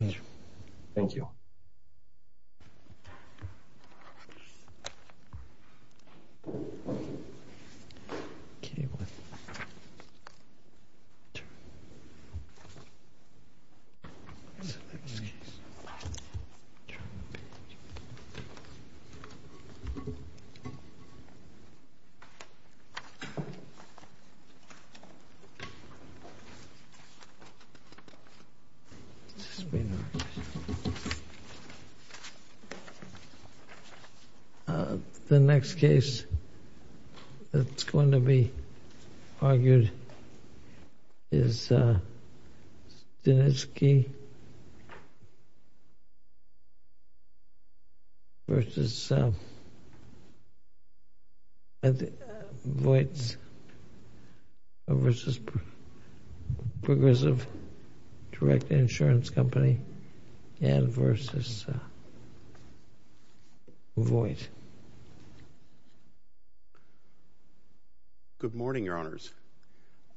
Ameenjohn Stanikzy v. Progressive Direct Insurance Company The next case that's going to be argued is Stanisky v. Voights v. Progressive Direct Insurance Company v. Voights. Good morning, Your Honors.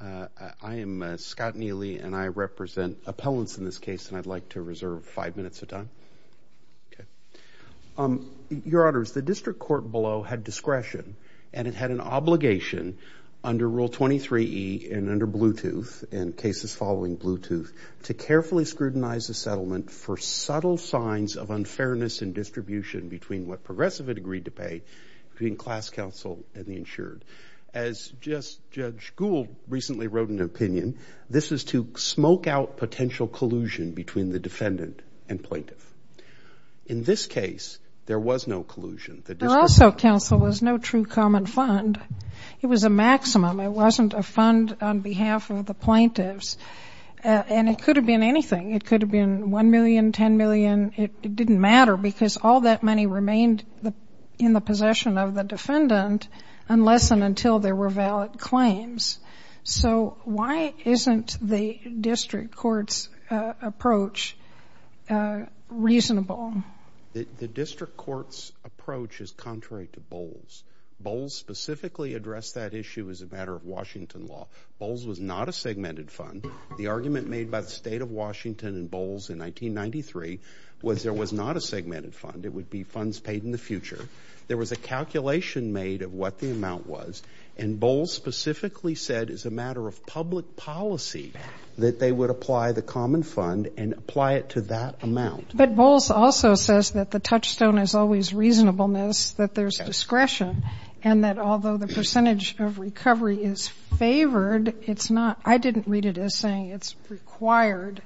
I am Scott Neely and I represent appellants in this case and I'd like to reserve five minutes of time. Your Honors, the district court below had discretion and it had an obligation under Rule 23e and under Bluetooth and cases following Bluetooth to carefully scrutinize the settlement for subtle signs of unfairness in distribution between what Progressive had agreed to pay between class counsel and the insured. As just Judge Gould recently wrote in an opinion, this is to smoke out potential collusion between the defendant and plaintiff. In this case, there was no collusion. There also counsel was no true common fund. It was a maximum. It wasn't a fund on behalf of the plaintiffs and it could have been anything. It could have been 1 million, 10 million. It didn't matter because all that money remained in the possession of the defendant unless and until there were valid claims. So why isn't the district court's approach reasonable? The district court's approach is contrary to Bowles. Bowles specifically addressed that issue as a matter of Washington law. Bowles was not a segmented fund. The argument made by the state of Washington and Bowles in 1993 was there was not a segmented fund. It would be funds paid in the future. There was a calculation made of what the amount was and Bowles specifically said as a matter of public policy that they would apply the common fund and apply it to that amount. But Bowles also says that the touchstone is always reasonableness, that there's discretion and that although the percentage of recovery is favored, it's not, I didn't read it as saying it's required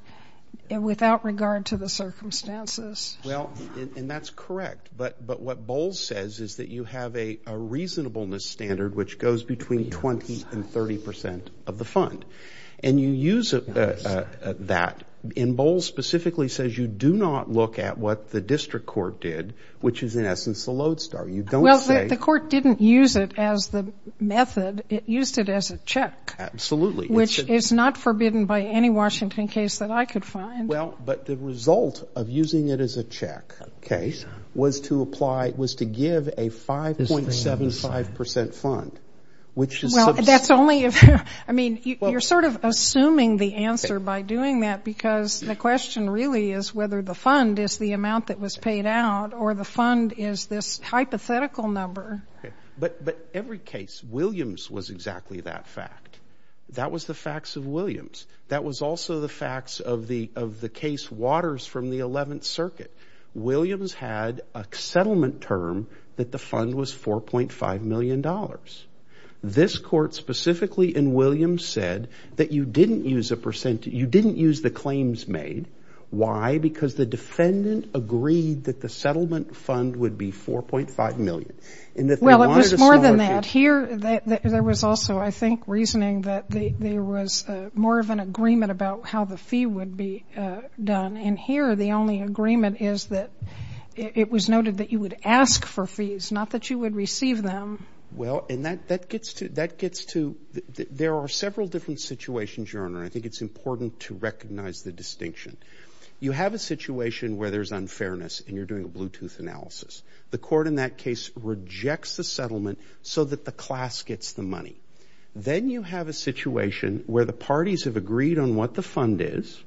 without regard to the circumstances. Well, and that's correct. But what Bowles says is that you have a reasonableness standard which goes between 20 and 30 percent of the fund. And you use that and Bowles specifically says you do not look at what the district court did, which is in essence the lodestar. You don't say... Well, the court didn't use it as the method. It used it as a check. Absolutely. Which is not forbidden by any Washington case that I could find. Well, but the result of using it as a check case was to apply, was to give a 5.75 percent fund, which is... Well, that's only if, I mean, you're sort of assuming the answer by doing that because the question really is whether the fund is the amount that was paid out or the fund is this hypothetical number. But every case, Williams was exactly that fact. That was the facts of Williams. That was also the facts of the case Waters from the 11th Circuit. Williams had a settlement term that the fund was $4.5 million. This court specifically in Williams said that you didn't use the claims made. Why? Because the defendant agreed that the settlement fund would be $4.5 million. Well, it was more than that. Here, there was also, I think, reasoning that there was more of an agreement about how the fee would be done. And here, the only agreement is that it was noted that you would ask for fees, not that you would receive them. Well, and that gets to, there are several different situations, Your Honor, and I think it's important to recognize the distinction. You have a situation where there's unfairness and you're doing a Bluetooth analysis. The court in that case rejects the settlement so that the class gets the money. Then you have a situation where the parties have agreed on what the fund is.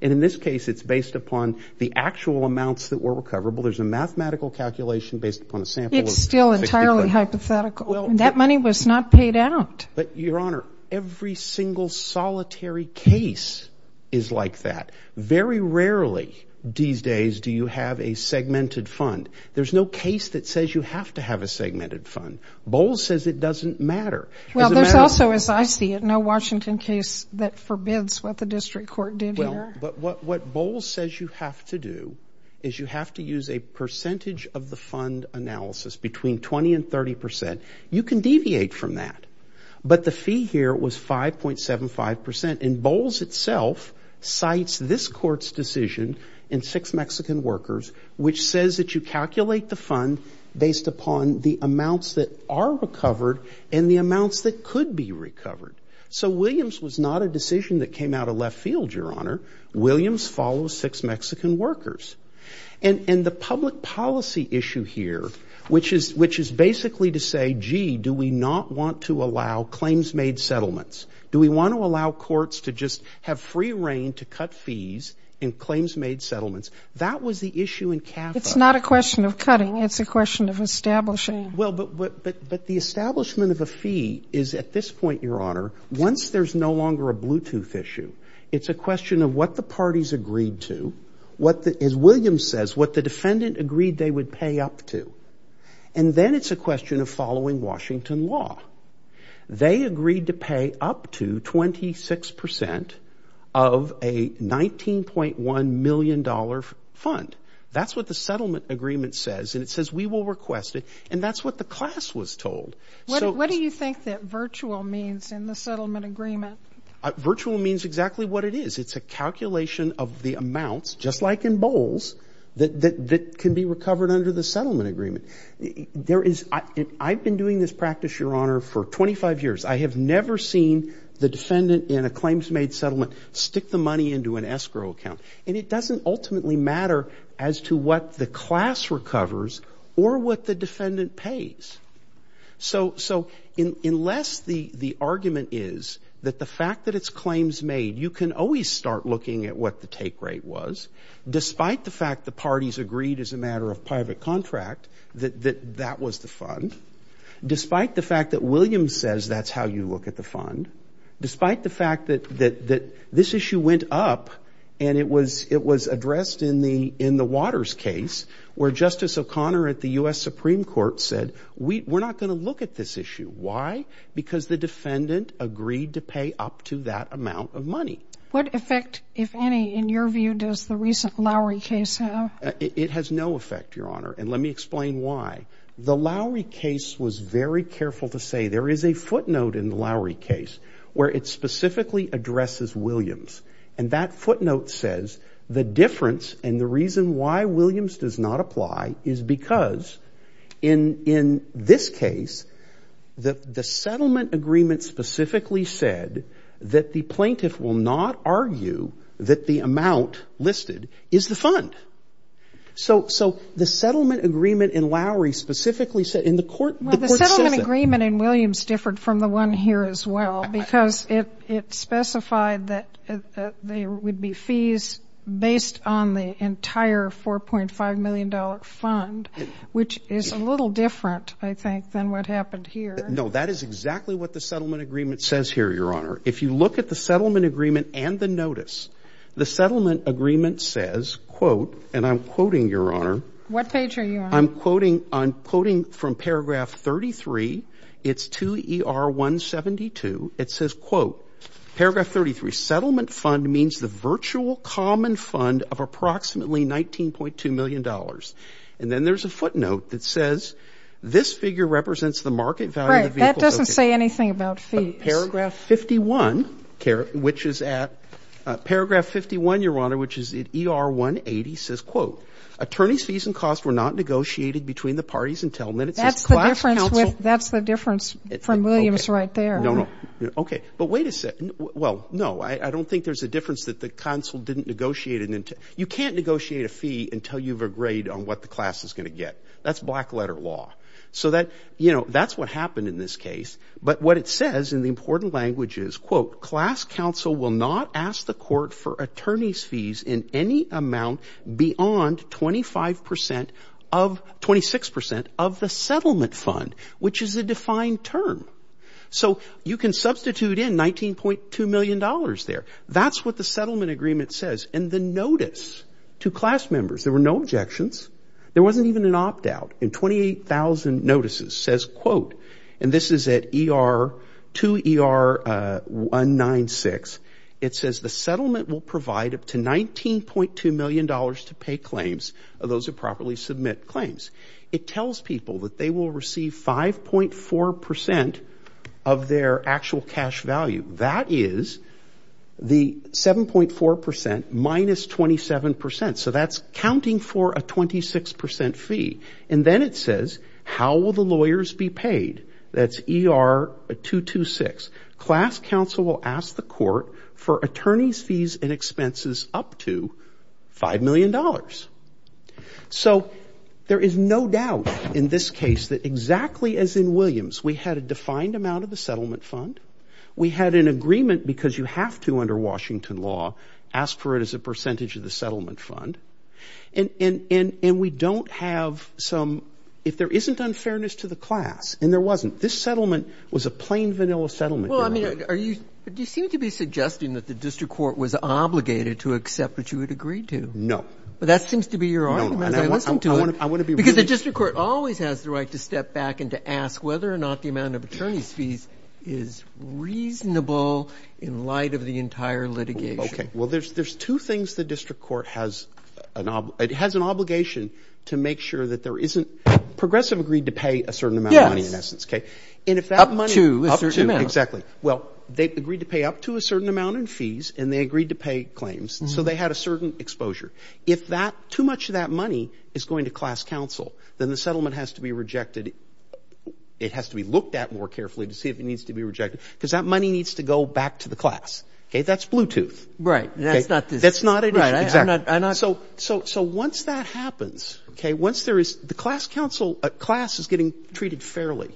And in this case, it's based upon the actual amounts that were recoverable. There's a mathematical calculation based upon a sample. It's still entirely hypothetical. That money was not paid out. But, Your Honor, every single solitary case is like that. Very rarely, these days, do you have a segmented fund. There's no case that says you have to have a segmented fund. Bowles says it doesn't matter. Well, there's also, as I see it, no Washington case that forbids what the district court did here. Well, but what Bowles says you have to do is you have to use a percentage of the fund analysis, between 20 and 30 percent. You can deviate from that. But the fee here was 5.75 percent. And Bowles itself cites this court's decision in Six Mexican Workers, which says that you calculate the fund based upon the amounts that could be recovered. So Williams was not a decision that came out of left field, Your Honor. Williams follows Six Mexican Workers. And the public policy issue here, which is basically to say, gee, do we not want to allow claims made settlements? Do we want to allow courts to just have free reign to cut fees in claims made settlements? That was the issue in CAFA. It's not a question of cutting. It's a question of establishing. Well, but the establishment of a fee is, at this point, Your Honor, once there's no longer a Bluetooth issue, it's a question of what the parties agreed to, what the, as Williams says, what the defendant agreed they would pay up to. And then it's a question of following Washington law. They agreed to pay up to 26 percent of a $19.1 million fund. That's what the settlement agreement says. And it says we will request it. And that's what the class was told. So what do you think that virtual means in the settlement agreement? Virtual means exactly what it is. It's a calculation of the amounts, just like in bowls, that can be recovered under the settlement agreement. There is, I've been doing this practice, Your Honor, for 25 years. I have never seen the defendant in a claims made settlement stick the money into an escrow account. And it doesn't ultimately matter as to what the class recovers or what the defendant pays. So unless the argument is that the fact that it's claims made, you can always start looking at what the take rate was, despite the fact the parties agreed as a matter of private contract that that was the fund, despite the fact that Williams says that's how you look at the fund, despite the fact that this issue went up and it was taken out. So Conner at the U.S. Supreme Court said, we're not going to look at this issue. Why? Because the defendant agreed to pay up to that amount of money. What effect, if any, in your view, does the recent Lowry case have? It has no effect, Your Honor. And let me explain why. The Lowry case was very careful to say there is a footnote in the Lowry case where it specifically addresses Williams. And that is because, in this case, the settlement agreement specifically said that the plaintiff will not argue that the amount listed is the fund. So the settlement agreement in Lowry specifically said, and the court says that. Well, the settlement agreement in Williams differed from the one here as well, because it specified that there would be fees based on the entire $4.5 million fund. Which is a little different, I think, than what happened here. No, that is exactly what the settlement agreement says here, Your Honor. If you look at the settlement agreement and the notice, the settlement agreement says, quote, and I'm quoting, Your Honor. What page are you on? I'm quoting from paragraph 33. It's 2ER172. It says, quote, paragraph 33, settlement fund means the virtual common fund of approximately $19.2 million. And then there's a footnote that says, this figure represents the market value of the vehicle. Right. That doesn't say anything about fees. Paragraph 51, which is at, paragraph 51, Your Honor, which is at ER180, says, quote, attorneys' fees and costs were not negotiated between the parties until minutes. That's the difference with, that's the difference from Williams right there. No, no. Okay. But wait a second. Well, no, I don't think there's a difference that the counsel didn't negotiate. You can't negotiate a fee until you've agreed on what the class is going to get. That's black letter law. So that, you know, that's what happened in this case. But what it says in the important language is, quote, class counsel will not ask the court for attorneys' fees in any amount beyond 25% of, 26% of the settlement fund, which is a defined term. So you can substitute in $19.2 million there. That's what the settlement agreement says. And the notice to class members, there were no objections. There wasn't even an opt-out. And 28,000 notices says, quote, and this is at ER, to ER196, it says, the settlement will provide up to $19.2 million to pay claims of those who properly submit claims. It tells people that they will receive 5.4% of their actual cash value. That is the 7.4% minus 27%. So that's counting for a 26% fee. And then it says, how will the lawyers be paid? That's ER226. Class counsel will ask the court for attorneys' fees and expenses up to $5 million. So there is no doubt in this case that exactly as in Williams, we had a defined amount of the settlement fund. We had an agreement, because you have to under Washington law, ask for it as a percentage of the settlement fund. And we don't have some, if there isn't unfairness to the class, and there wasn't, this settlement was a plain vanilla settlement agreement. I mean, are you, do you seem to be suggesting that the district court was obligated to accept what you had agreed to? No. Well, that seems to be your argument as I listen to it, because the district court always has the right to step back and to ask whether or not the amount of attorneys' fees is reasonable in light of the entire litigation. Okay. Well, there's two things the district court has, it has an obligation to make sure that there isn't, Progressive agreed to pay a certain amount of money in essence, okay? Yes. Up to a certain amount. Exactly. Well, they agreed to pay up to a certain amount in fees, and they agreed to pay claims, so they had a certain exposure. If that, too much of that money is going to class counsel, then the settlement has to be rejected. It has to be looked at more carefully to see if it needs to be rejected, because that money needs to go back to the class. Okay? That's Bluetooth. Right. That's not this. That's not it. Exactly. So once that happens, okay, once there is, the class counsel, class is getting treated fairly.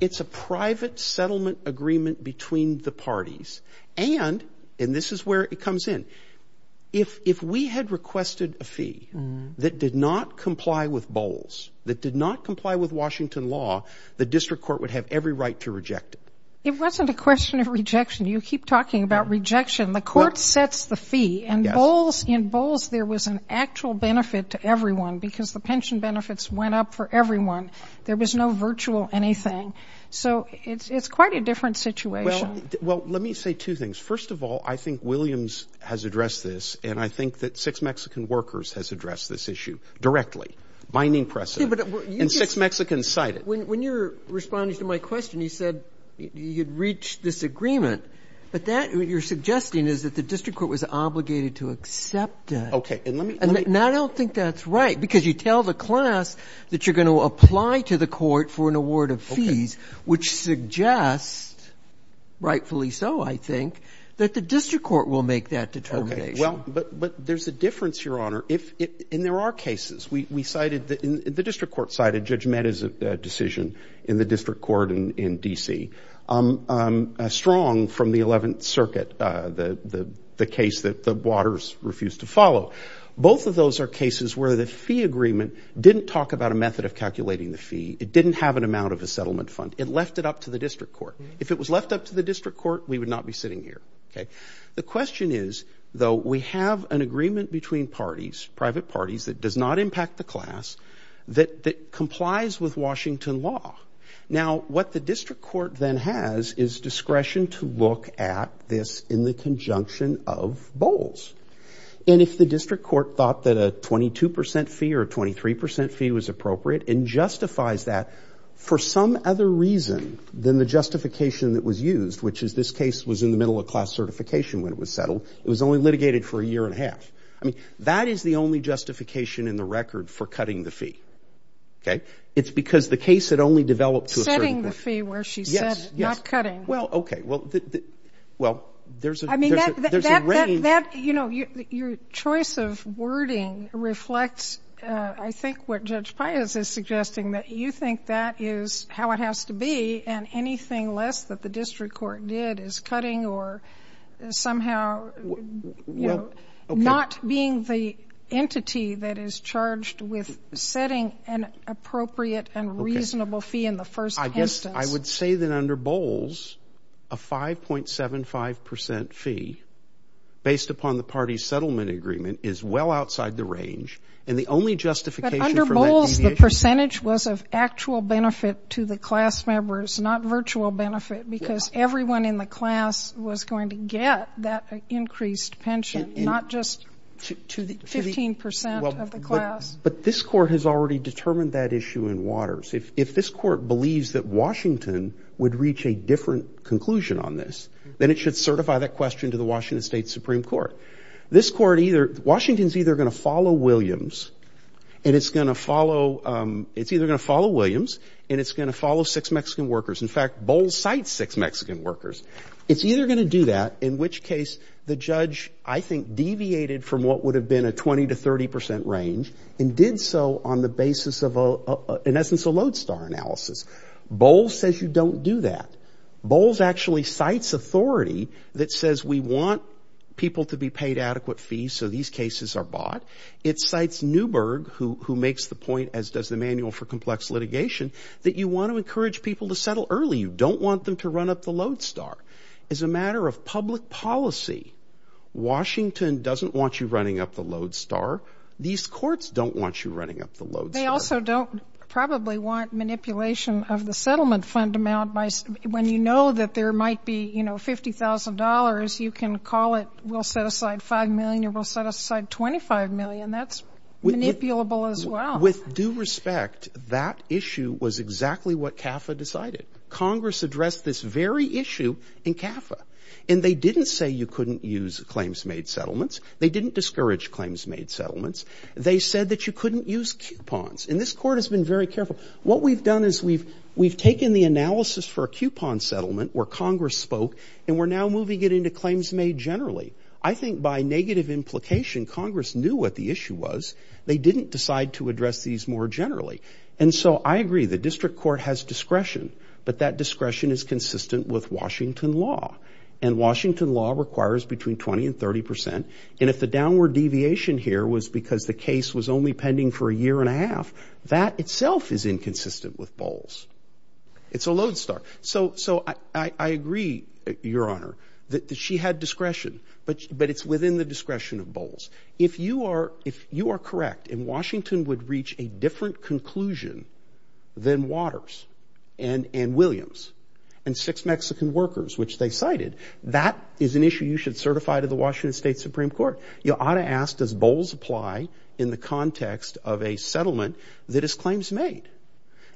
It's a private settlement agreement between the parties, and, and this is where it comes in, if we had requested a fee that did not comply with Bowles, that did not comply with Washington law, the district court would have every right to reject it. It wasn't a question of rejection. You keep talking about rejection. The court sets the fee, and Bowles, in Bowles there was an actual benefit to everyone, because the pension benefits went up for everyone. There was no virtual anything. So it's, it's quite a different situation. Well, let me say two things. First of all, I think Williams has addressed this, and I think that six Mexican workers has addressed this issue directly, binding precedent, and six Mexicans cited it. When you're responding to my question, you said you'd reached this agreement, but that what you're suggesting is that the district court was obligated to accept it. Okay. And let me, let me I don't think that's right, because you tell the class that you're going to apply to the court for an award of fees, which suggests, rightfully so, I think, that the district court will make that determination. Okay. Well, but, but there's a difference, Your Honor. If it, and there are cases. We, we cited the, the district court cited Judge Mehta's decision in the district court in, in D.C., strong from the 11th Circuit, the, the, the case that the Waters refused to follow. Both of those are cases where the fee agreement didn't talk about a method of calculating the fee. It didn't have an amount of a settlement fund. It left it up to the district court. If it was left up to the district court, we would not be sitting here. Okay. The question is, though, we have an agreement between parties, private parties, that does not impact the class, that, that complies with Washington law. Now, what the district court then has is discretion to look at this in the conjunction of bowls. And if the district court thought that a 22% fee or a 23% fee was appropriate and justifies that for some other reason than the justification that was used, which is this case was in the middle of class certification when it was settled. It was only litigated for a year and a half. I mean, that is the only justification in the record for cutting the fee. Okay. It's because the case had only developed to a certain point. Yes. Yes. Where she said not cutting. Well, okay. Well, the, the, well, there's a, there's a, there's a range. I mean, that, that, that, that, you know, your, your choice of wording reflects, uh, I think what Judge Pius is suggesting, that you think that is how it has to be and anything less that the district court did is cutting or somehow, you know, not being the entity that is charged with setting an appropriate and reasonable fee in the first instance. I would say that under Bowles, a 5.75% fee based upon the party's settlement agreement is well outside the range. And the only justification for that deviation. But under Bowles, the percentage was of actual benefit to the class members, not virtual benefit because everyone in the class was going to get that increased pension, not just to the 15% of the class. But this court has already determined that issue in Waters. If, if this court believes that Washington would reach a different conclusion on this, then it should certify that question to the Washington State Supreme Court. This court either, Washington's either going to follow Williams and it's going to follow, it's either going to follow Williams and it's going to follow six Mexican workers. In fact, Bowles cites six Mexican workers. It's either going to do that, in which case the judge, I think, deviated from what would have been a 20 to 30% range and did so on the basis of a, in essence, a lodestar analysis. Bowles says you don't do that. Bowles actually cites authority that says we want people to be paid adequate fees so these cases are bought. It cites Newberg, who, who makes the point, as does the manual for complex litigation, that you want to encourage people to settle early. You don't want them to run up the lodestar. As a matter of public policy, Washington doesn't want you running up the lodestar. These courts don't want you running up the lodestar. They also don't probably want manipulation of the settlement fund amount by, when you know that there might be, you know, $50,000, you can call it we'll set aside $5 million or we'll set aside $25 million. That's manipulable as well. With due respect, that issue was exactly what CAFA decided. Congress addressed this very issue in CAFA. And they didn't say you couldn't use claims made settlements. They didn't discourage claims made settlements. They said that you couldn't use coupons. And this court has been very careful. What we've done is we've, we've taken the analysis for a coupon settlement where Congress spoke and we're now moving it into claims made generally. I think by negative implication, Congress knew what the issue was. They didn't decide to address these more generally. And so I agree. The district court has discretion. But that discretion is consistent with Washington law. And Washington law requires between 20 and 30 percent. And if the downward deviation here was because the case was only pending for a year and a half, that itself is inconsistent with Bowles. It's a lodestar. So, so I, I agree, Your Honor, that she had discretion, but, but it's within the discretion of Bowles. If you are, if you are correct and Washington would reach a different conclusion than Waters and, and Williams and six Mexican workers, which they cited, that is an issue you should certify to the Washington State Supreme Court. You ought to ask, does Bowles apply in the context of a settlement that is claims made?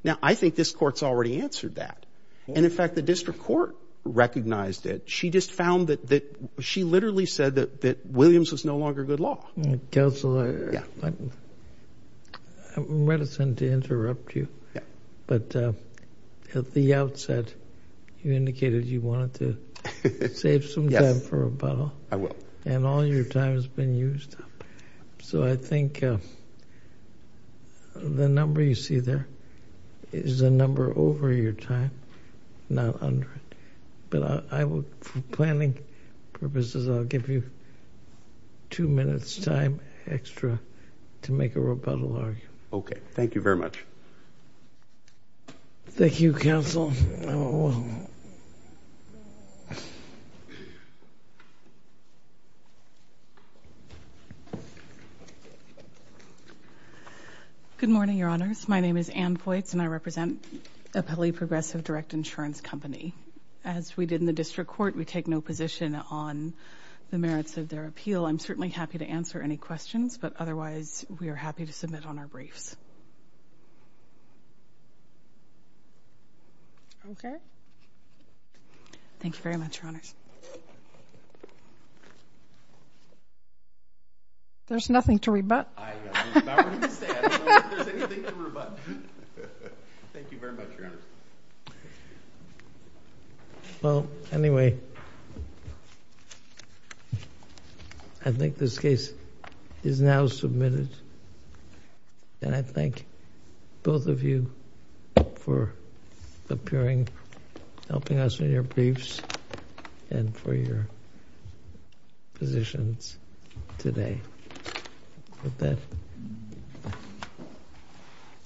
Now, I think this court's already answered that. And in fact, the district court recognized it. She just found that, that she literally said that, that Williams was no longer good law. Counselor. Yeah. I'm reticent to interrupt you. Yeah. But at the outset, you indicated you wanted to save some time for a bow. I will. And all your time has been used up. So I think, uh, the number you see there is a number over your time, not under it. But I will, for planning purposes, I'll give you two minutes time extra to make a rebuttal argument. Okay. Thank you very much. Thank you, Counsel. Good morning, Your Honors. My name is Anne Poitts and I represent Appellee Progressive Direct Insurance Company. As we did in the district court, we take no position on the merits of their appeal. I'm certainly happy to answer any questions, but otherwise we are happy to submit on our briefs. Okay. Thank you very much, Your Honors. There's nothing to rebut. I'm about ready to say I don't think there's anything to rebut. Thank you very much, Your Honors. Well, anyway, I think this case is now submitted. And I thank both of you for appearing, helping us in your briefs and for your positions today.